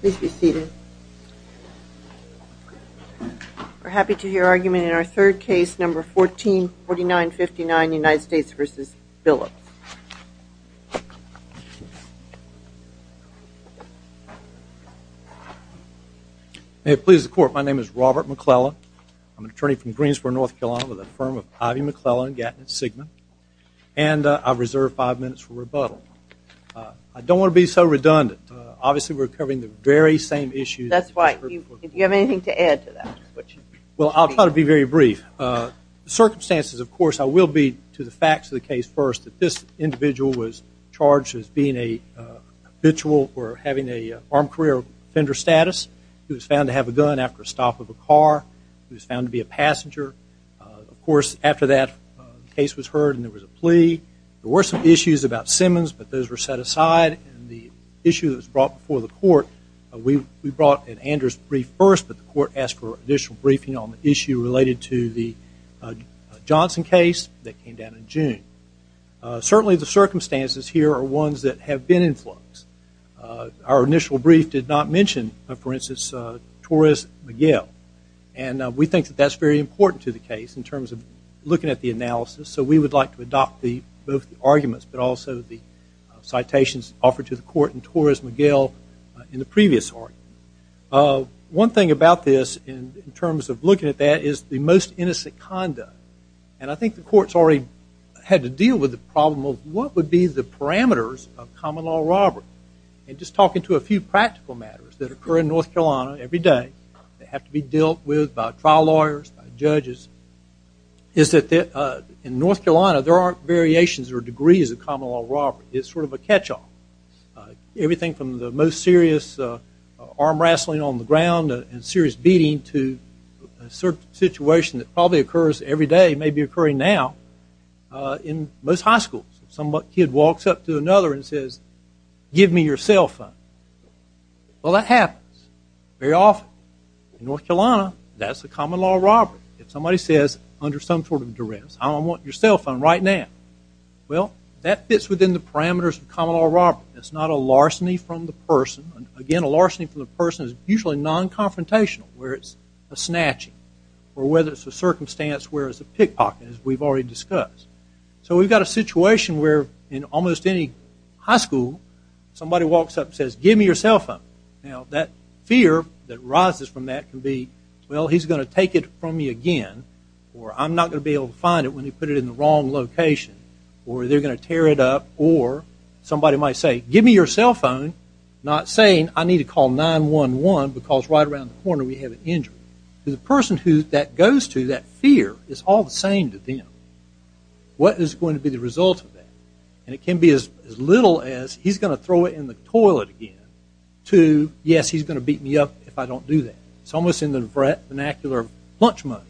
Please be seated. We're happy to hear argument in our third case, number 144959 United States v. Billups. May it please the court, my name is Robert McClellan. I'm an attorney from Greensboro, North Carolina with a firm of Ivy McClellan and Gatton & Sigman. And I reserve five minutes for rebuttal. I don't want to be so redundant. Obviously we're covering the very same issues. That's right. Do you have anything to add to that? Well, I'll try to be very brief. Circumstances, of course, I will be to the facts of the case first. This individual was charged as being a habitual or having an armed career offender status. He was found to have a gun after a stop of a car. He was found to be a passenger. Of course, after that, the case was heard and there was a plea. There were some issues about Simmons, but those were set aside. And the issue that was brought before the court, we brought an Anders brief first, but the court asked for additional briefing on the issue related to the Johnson case that came down in June. Certainly the circumstances here are ones that have been in flux. Our initial brief did not mention, for instance, Torres Miguel. And we think that that's very important to the case in terms of looking at the analysis, so we would like to adopt both the arguments but also the citations offered to the court in Torres Miguel in the previous argument. One thing about this in terms of looking at that is the most innocent conduct. And I think the court's already had to deal with the problem of what would be the parameters of common law robbery. And just talking to a few practical matters that occur in North Carolina every day that have to be dealt with by trial lawyers, by judges, is that in North Carolina there aren't variations or degrees of common law robbery. It's sort of a catch-all. Everything from the most serious arm-wrestling on the ground and serious beating to a situation that probably occurs every day, maybe occurring now, in most high schools. Some kid walks up to another and says, give me your cell phone. Well, that happens very often. In North Carolina, that's a common law robbery. If somebody says under some sort of duress, I want your cell phone right now, well, that fits within the parameters of common law robbery. It's not a larceny from the person. Again, a larceny from the person is usually non-confrontational where it's a snatching or whether it's a circumstance where it's a pickpocket, as we've already discussed. So we've got a situation where in almost any high school somebody walks up and says, give me your cell phone. Now, that fear that rises from that can be, well, he's going to take it from me again, or I'm not going to be able to find it when he put it in the wrong location, or they're going to tear it up, or somebody might say, give me your cell phone, not saying I need to call 911 because right around the corner we have an injury. To the person that that goes to, that fear is all the same to them. What is going to be the result of that? And it can be as little as he's going to throw it in the toilet again to, yes, he's going to beat me up if I don't do that. It's almost in the vernacular of lunch money.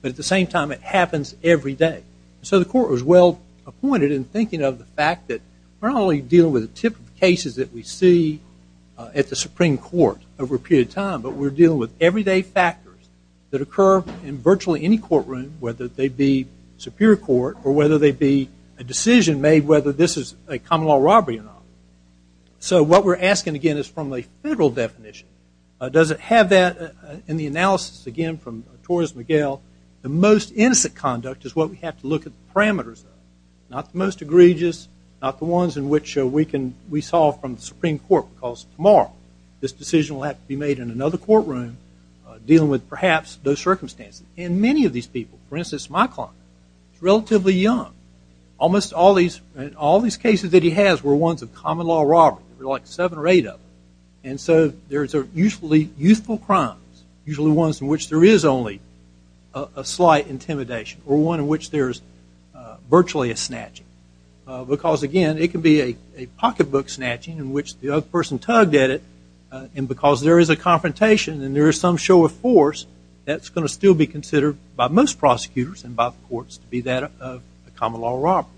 But at the same time, it happens every day. So the court was well-appointed in thinking of the fact that we're not only dealing with but we're dealing with everyday factors that occur in virtually any courtroom, whether they be superior court or whether they be a decision made whether this is a common law robbery or not. So what we're asking, again, is from a federal definition, does it have that in the analysis, again, from Torres-Miguel, the most innocent conduct is what we have to look at the parameters of, not the most egregious, not the ones in which we solve from the Supreme Court because tomorrow this decision will have to be made in another courtroom dealing with perhaps those circumstances. And many of these people, for instance, my client is relatively young. Almost all these cases that he has were ones of common law robbery. There were like seven or eight of them. And so there are usually youthful crimes, usually ones in which there is only a slight intimidation or one in which there is virtually a snatching because, again, it can be a pocketbook snatching in which the other person tugged at it and because there is a confrontation and there is some show of force, that's going to still be considered by most prosecutors and by the courts to be that of a common law robbery.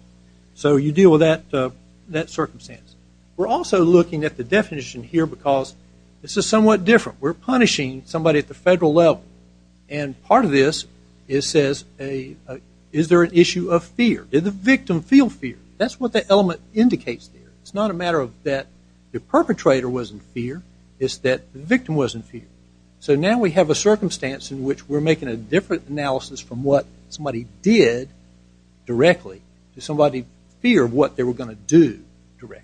So you deal with that circumstance. We're also looking at the definition here because this is somewhat different. We're punishing somebody at the federal level. And part of this says, is there an issue of fear? Did the victim feel fear? That's what the element indicates there. It's not a matter of that the perpetrator was in fear. It's that the victim was in fear. So now we have a circumstance in which we're making a different analysis from what somebody did directly to somebody's fear of what they were going to do directly.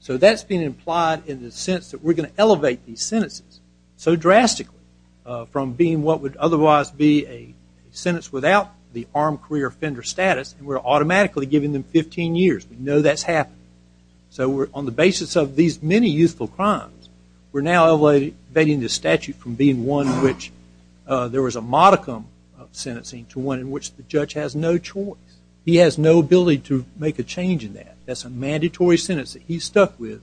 So that's been implied in the sense that we're going to elevate these sentences so drastically from being what would otherwise be a sentence without the armed career offender status, and we're automatically giving them 15 years. We know that's happening. So on the basis of these many youthful crimes, we're now elevating the statute from being one in which there was a modicum of sentencing to one in which the judge has no choice. He has no ability to make a change in that. That's a mandatory sentence that he's stuck with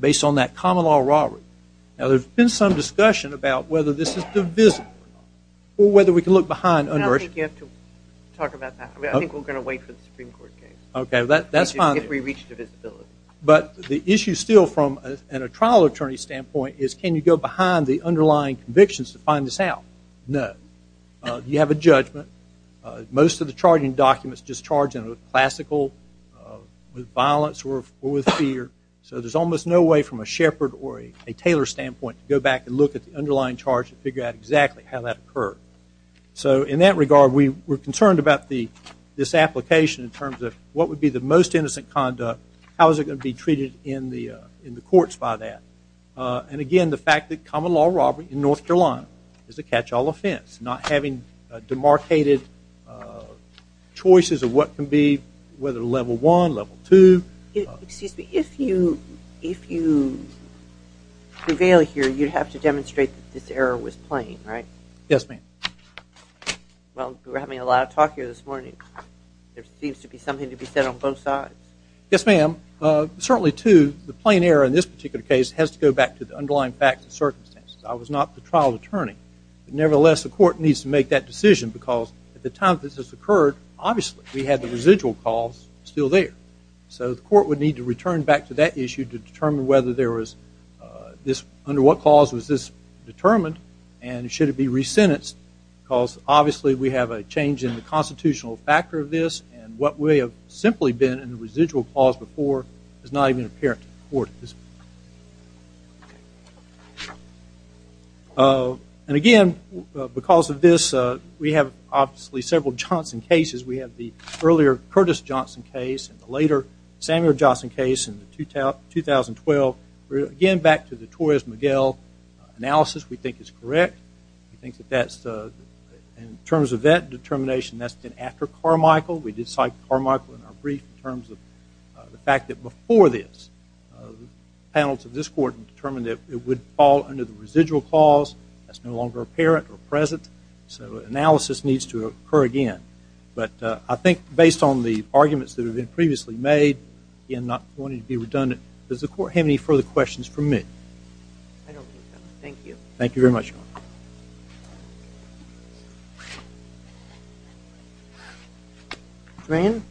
based on that common law robbery. Now, there's been some discussion about whether this is divisible or whether we can look behind under it. I don't think you have to talk about that. I think we're going to wait for the Supreme Court case. Okay, that's fine. If we reach divisibility. But the issue still from a trial attorney standpoint is can you go behind the underlying convictions to find this out? No. You have a judgment. Most of the charging documents just charge them with classical, with violence or with fear. So there's almost no way from a Shepard or a Taylor standpoint to go back and look at the underlying charge and figure out exactly how that occurred. So in that regard, we're concerned about this application in terms of what would be the most innocent conduct, how is it going to be treated in the courts by that. And again, the fact that common law robbery in North Carolina is a catch-all offense, not having demarcated choices of what can be, whether level one, level two. Excuse me. If you prevail here, you'd have to demonstrate that this error was plain, right? Yes, ma'am. Well, we're having a lot of talk here this morning. There seems to be something to be said on both sides. Yes, ma'am. Certainly, too, the plain error in this particular case has to go back to the underlying facts and circumstances. I was not the trial attorney. Nevertheless, the court needs to make that decision because at the time this has occurred, obviously, we had the residual cause still there. So the court would need to return back to that issue to determine whether there was this, under what cause was this determined and should it be re-sentenced because obviously we have a change in the constitutional factor of this and what we have simply been in the residual cause before is not even apparent to the court at this point. And again, because of this, we have obviously several Johnson cases. We have the earlier Curtis Johnson case and the later Samuel Johnson case in 2012. Again, back to the Torres-Miguel analysis, we think it's correct. We think that in terms of that determination, that's been after Carmichael. We did cite Carmichael in our brief in terms of the fact that before this, the panel to this court determined that it would fall under the residual cause. That's no longer apparent or present. So analysis needs to occur again. But I think based on the arguments that have been previously made, again, not wanting to be redundant, does the court have any further questions for me? I don't think so. Thank you. Thank you very much. Rand?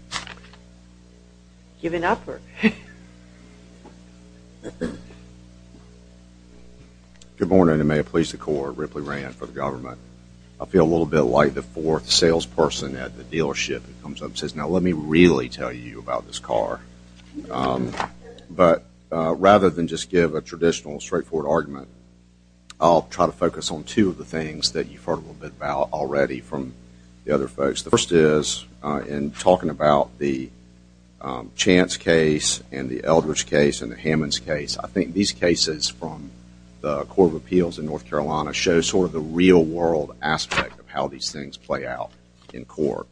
Giving up? Good morning and may it please the court. Ripley Rand for the government. I feel a little bit like the fourth salesperson at the dealership that comes up and says, you know, let me really tell you about this car. But rather than just give a traditional, straightforward argument, I'll try to focus on two of the things that you've heard a little bit about already from the other folks. The first is in talking about the Chance case and the Eldridge case and the Hammonds case, I think these cases from the Court of Appeals in North Carolina show sort of the real world aspect of how these things play out in court.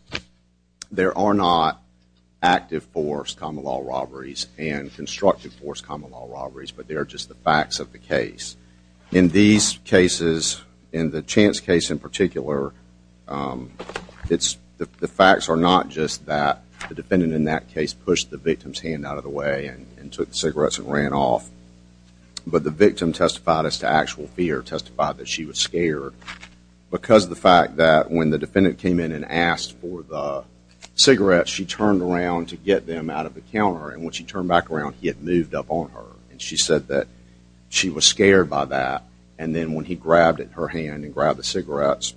There are not active force common law robberies and constructive force common law robberies, but they are just the facts of the case. In these cases, in the Chance case in particular, the facts are not just that the defendant in that case pushed the victim's hand out of the way and took the cigarettes and ran off, but the victim testified as to actual fear, testified that she was scared. Because of the fact that when the defendant came in and asked for the cigarettes, she turned around to get them out of the counter. And when she turned back around, he had moved up on her. And she said that she was scared by that. And then when he grabbed her hand and grabbed the cigarettes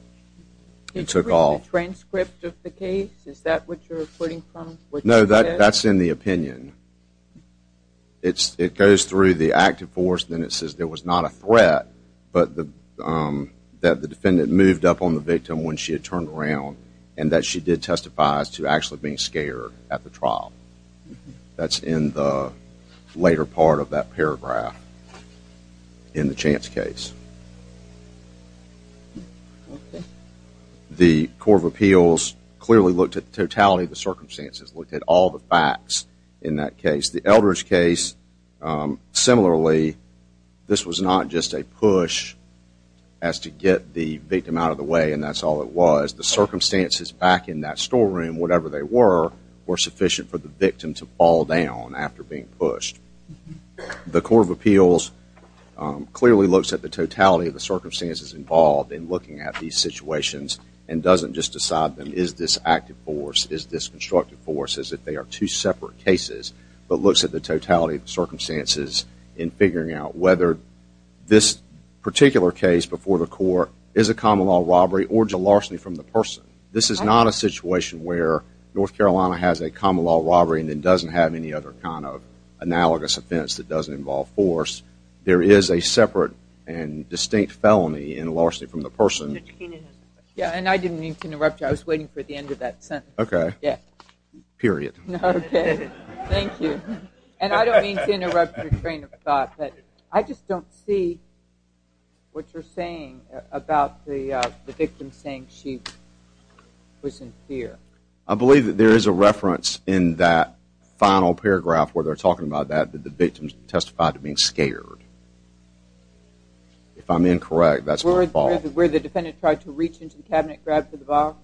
and took off. Did you read the transcript of the case? Is that what you're quoting from? No, that's in the opinion. It goes through the active force. Then it says there was not a threat, but that the defendant moved up on the victim when she had turned around and that she did testify as to actually being scared at the trial. That's in the later part of that paragraph in the Chance case. The Court of Appeals clearly looked at the totality of the circumstances, looked at all the facts in that case. The Eldridge case, similarly, this was not just a push as to get the victim out of the way, and that's all it was. The circumstances back in that storeroom, whatever they were, were sufficient for the victim to fall down after being pushed. The Court of Appeals clearly looks at the totality of the circumstances involved in looking at these situations and doesn't just decide, is this active force, is this constructive force, as if they are two separate cases, but looks at the totality of the circumstances in figuring out whether this particular case before the court is a common law robbery or is a larceny from the person. This is not a situation where North Carolina has a common law robbery and then doesn't have any other kind of analogous offense that doesn't involve force. There is a separate and distinct felony in larceny from the person. I didn't mean to interrupt you. I was waiting for the end of that sentence. Okay. Yes. Period. Okay. Thank you. And I don't mean to interrupt your train of thought, but I just don't see what you're saying about the victim saying she was in fear. I believe that there is a reference in that final paragraph where they're talking about that that the victim testified to being scared. If I'm incorrect, that's my fault. Where the defendant tried to reach into the cabinet and grab the box?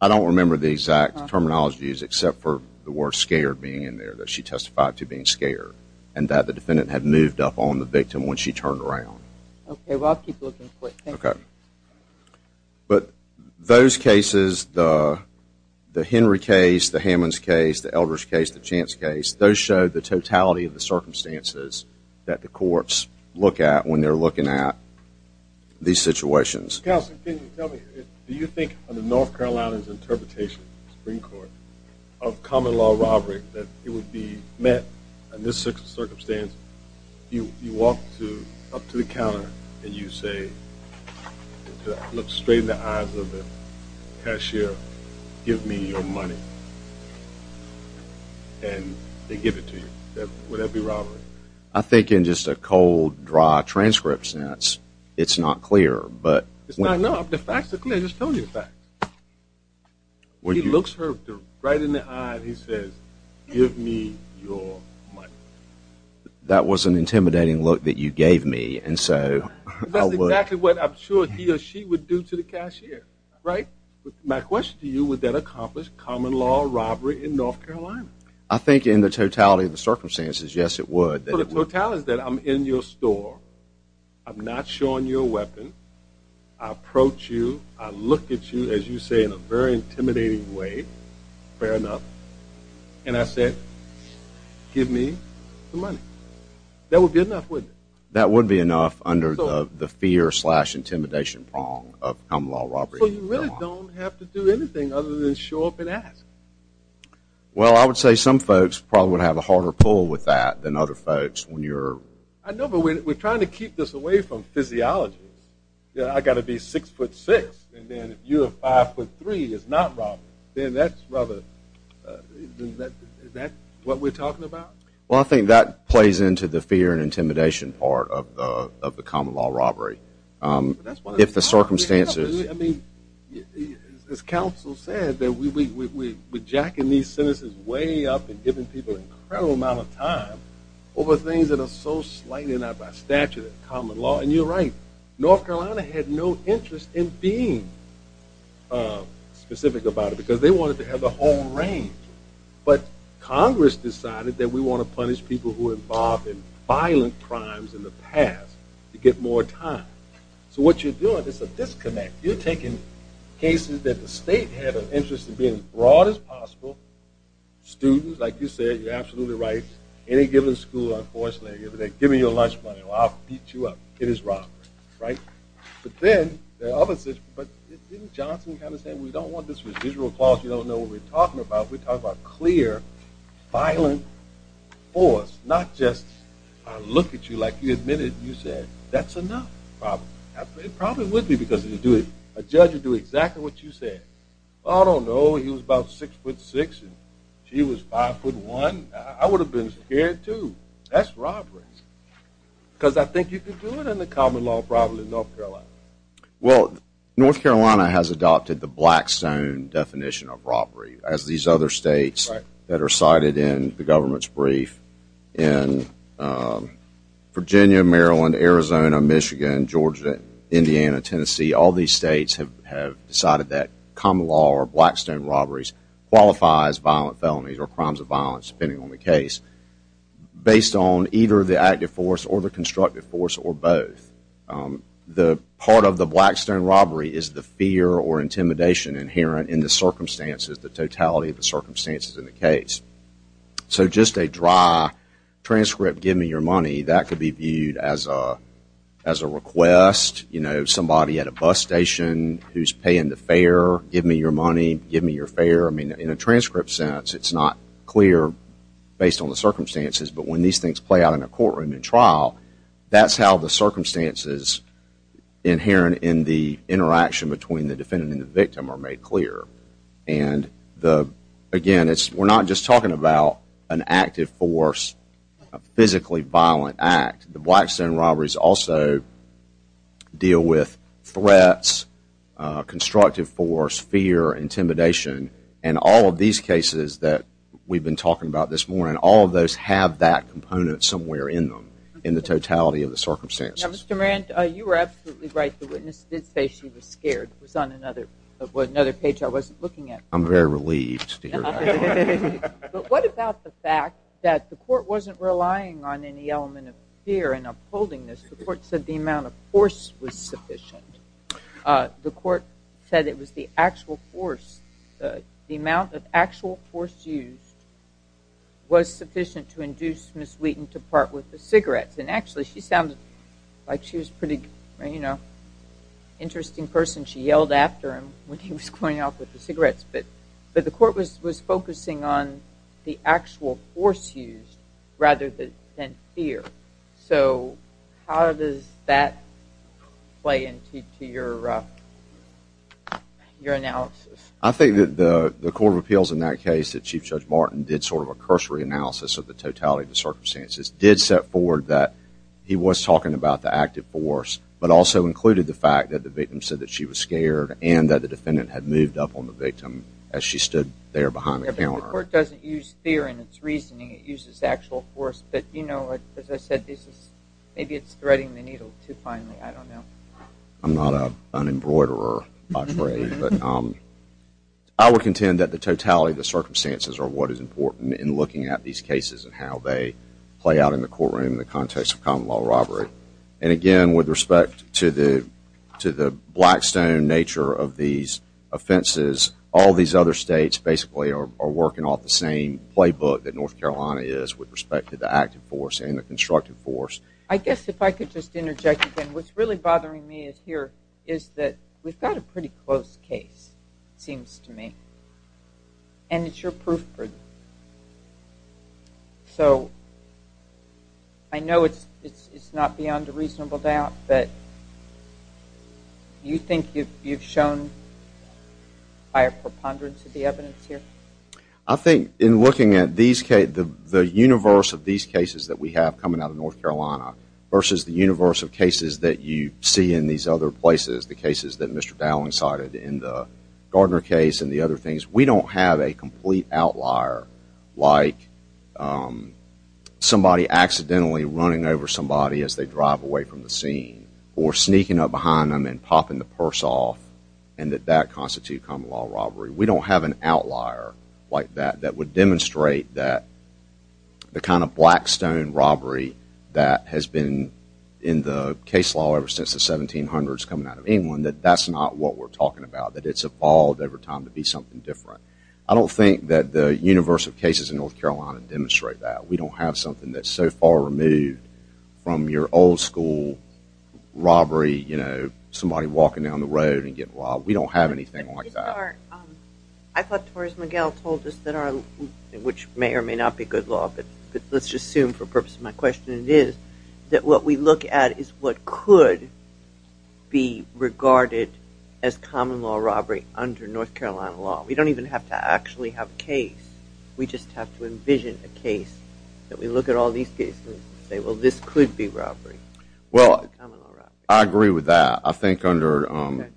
I don't remember the exact terminologies except for the word scared being in there that she testified to being scared and that the defendant had moved up on the victim when she turned around. Okay. Well, I'll keep looking for it. Thank you. Okay. But those cases, the Henry case, the Hammonds case, the Eldridge case, the Chance case, those show the totality of the circumstances that the courts look at when they're looking at these situations. Mr. Counselor, can you tell me, do you think in the North Carolina's interpretation of the Supreme Court of common law robbery that it would be met in this circumstance? You walk up to the counter and you say, look straight in the eyes of the cashier, give me your money, and they give it to you. Would that be robbery? I think in just a cold, dry transcript sense, it's not clear. It's not enough. The facts are clear. Just tell me the facts. He looks her right in the eye and he says, give me your money. That was an intimidating look that you gave me, and so I would. That's exactly what I'm sure he or she would do to the cashier, right? My question to you, would that accomplish common law robbery in North Carolina? I think in the totality of the circumstances, yes, it would. The totality is that I'm in your store. I'm not showing you a weapon. I approach you. I look at you, as you say, in a very intimidating way. Fair enough. And I say, give me the money. That would be enough, wouldn't it? That would be enough under the fear slash intimidation prong of common law robbery. So you really don't have to do anything other than show up and ask? Well, I would say some folks probably would have a harder pull with that than other folks. I know, but we're trying to keep this away from physiologists. I've got to be 6'6", and then if you're 5'3", it's not robbery. Then that's what we're talking about? Well, I think that plays into the fear and intimidation part of the common law robbery. If the circumstances. As counsel said, we're jacking these sentences way up and giving people an incredible amount of time over things that are so slighted out by statute and common law. And you're right. North Carolina had no interest in being specific about it because they wanted to have the whole range. But Congress decided that we want to punish people who were involved in violent crimes in the past to get more time. So what you're doing is a disconnect. You're taking cases that the state had an interest in being as broad as possible. Students, like you said, you're absolutely right. Any given school, unfortunately, they're giving you lunch money. Well, I'll beat you up. It is robbery, right? But then there are other situations. But didn't Johnson kind of say, we don't want this residual clause. You don't know what we're talking about. We're talking about clear, violent force, not just I look at you like you admitted and you said, that's enough probably. It probably would be because a judge would do exactly what you said. I don't know, he was about 6 foot 6 and she was 5 foot 1. I would have been scared too. That's robbery. Because I think you could do it under common law probably in North Carolina. Well, North Carolina has adopted the Blackstone definition of robbery as these other states that are cited in the government's brief. In Virginia, Maryland, Arizona, Michigan, Georgia, Indiana, Tennessee, all these states have decided that common law or Blackstone robberies qualifies violent felonies or crimes of violence, depending on the case, based on either the active force or the constructive force or both. The part of the Blackstone robbery is the fear or intimidation inherent in the circumstances, the totality of the circumstances in the case. So just a dry transcript, give me your money, that could be viewed as a request, you know, somebody at a bus station who's paying the fare, give me your money, give me your fare. I mean, in a transcript sense, it's not clear based on the circumstances, but when these things play out in a courtroom in trial, that's how the circumstances inherent in the interaction between the defendant and the victim are made clear. And again, we're not just talking about an active force, a physically violent act. The Blackstone robberies also deal with threats, constructive force, fear, intimidation, and all of these cases that we've been talking about this morning, all of those have that component somewhere in them, in the totality of the circumstances. Now, Mr. Moran, you were absolutely right. The witness did say she was scared. It was on another page I wasn't looking at. I'm very relieved to hear that. But what about the fact that the court wasn't relying on any element of fear and upholding this? The court said the amount of force was sufficient. The court said it was the actual force, the amount of actual force used, was sufficient to induce Ms. Wheaton to part with the cigarettes. And actually, she sounded like she was a pretty interesting person. She yelled after him when he was going off with the cigarettes. But the court was focusing on the actual force used rather than fear. So how does that play into your analysis? I think that the Court of Appeals in that case, that Chief Judge Martin did sort of a He was talking about the active force, but also included the fact that the victim said that she was scared and that the defendant had moved up on the victim as she stood there behind the counter. The court doesn't use fear in its reasoning. It uses actual force. But, you know, as I said, maybe it's threading the needle too finely. I don't know. I'm not an embroiderer, I'm afraid. I would contend that the totality of the circumstances are what is important in looking at these cases and how they play out in the courtroom in the context of common law robbery. And again, with respect to the blackstone nature of these offenses, all these other states basically are working off the same playbook that North Carolina is with respect to the active force and the constructive force. I guess if I could just interject again, what's really bothering me here is that we've got a pretty close case, it seems to me. And it's your proof. So I know it's not beyond a reasonable doubt, but do you think you've shown higher preponderance of the evidence here? I think in looking at the universe of these cases that we have coming out of North Carolina versus the universe of cases that you see in these other places, the cases that Mr. Dowling cited in the Gardner case and the other things, we don't have a complete outlier like somebody accidentally running over somebody as they drive away from the scene or sneaking up behind them and popping the purse off and that that constitutes common law robbery. We don't have an outlier like that that would demonstrate that the kind of blackstone robbery that has been in the case law ever since the 1700s coming out of England, that that's not what we're talking about, that it's evolved over time to be something different. I don't think that the universe of cases in North Carolina demonstrate that. We don't have something that's so far removed from your old school robbery, somebody walking down the road and getting robbed. We don't have anything like that. I thought Torres Miguel told us, which may or may not be good law, but let's just assume for the purpose of my question it is, that what we look at is what could be regarded as common law robbery under North Carolina law. We don't even have to actually have a case. We just have to envision a case that we look at all these cases and say, well, this could be robbery. Well, I agree with that. I think under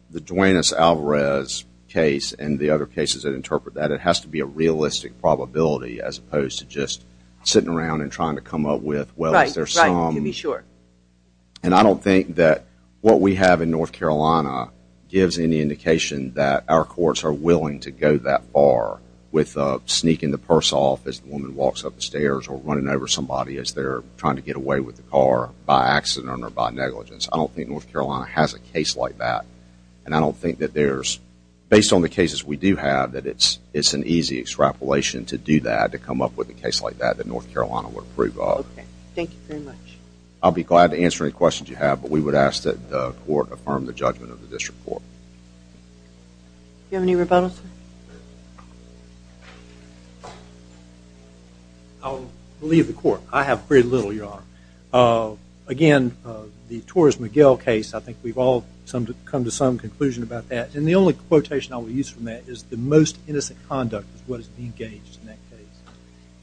the Duane S. Alvarez case and the other cases that interpret that, it has to be a realistic probability as opposed to just sitting around and trying to come up with, well, is there some. Right, right, you'd be sure. And I don't think that what we have in North Carolina gives any indication that our courts are willing to go that far with sneaking the purse off as the woman walks up the stairs or running over somebody as they're trying to get away with the car by accident or by negligence. I don't think North Carolina has a case like that. And I don't think that there's, based on the cases we do have, that it's an easy extrapolation to do that, to come up with a case like that, that North Carolina would approve of. Okay. Thank you very much. I'll be glad to answer any questions you have, but we would ask that the court affirm the judgment of the district court. Do you have any rebuttals? I'll leave the court. I have very little, Your Honor. Again, the Torres-Miguel case, I think we've all come to some conclusion about that. And the only quotation I will use from that is, the most innocent conduct is what is engaged in that case.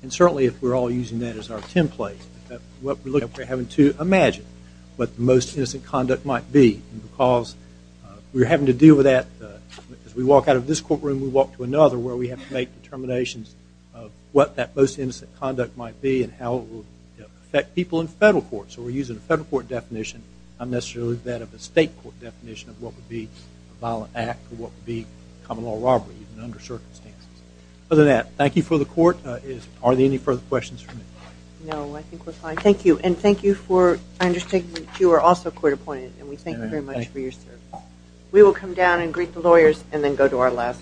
And certainly if we're all using that as our template, what we're looking at, we're having to imagine what the most innocent conduct might be. And because we're having to deal with that, as we walk out of this courtroom, we walk to another where we have to make determinations of what that most innocent conduct might be and how it will affect people in federal court. So we're using a federal court definition, not necessarily that of a state court definition of what would be a violent act or what would be a common law robbery under certain circumstances. Other than that, thank you for the court. Are there any further questions for me? No, I think we're fine. Thank you. And thank you for understanding that you are also court appointed, and we thank you very much for your service. We will come down and greet the lawyers and then go to our last meeting. Thank you.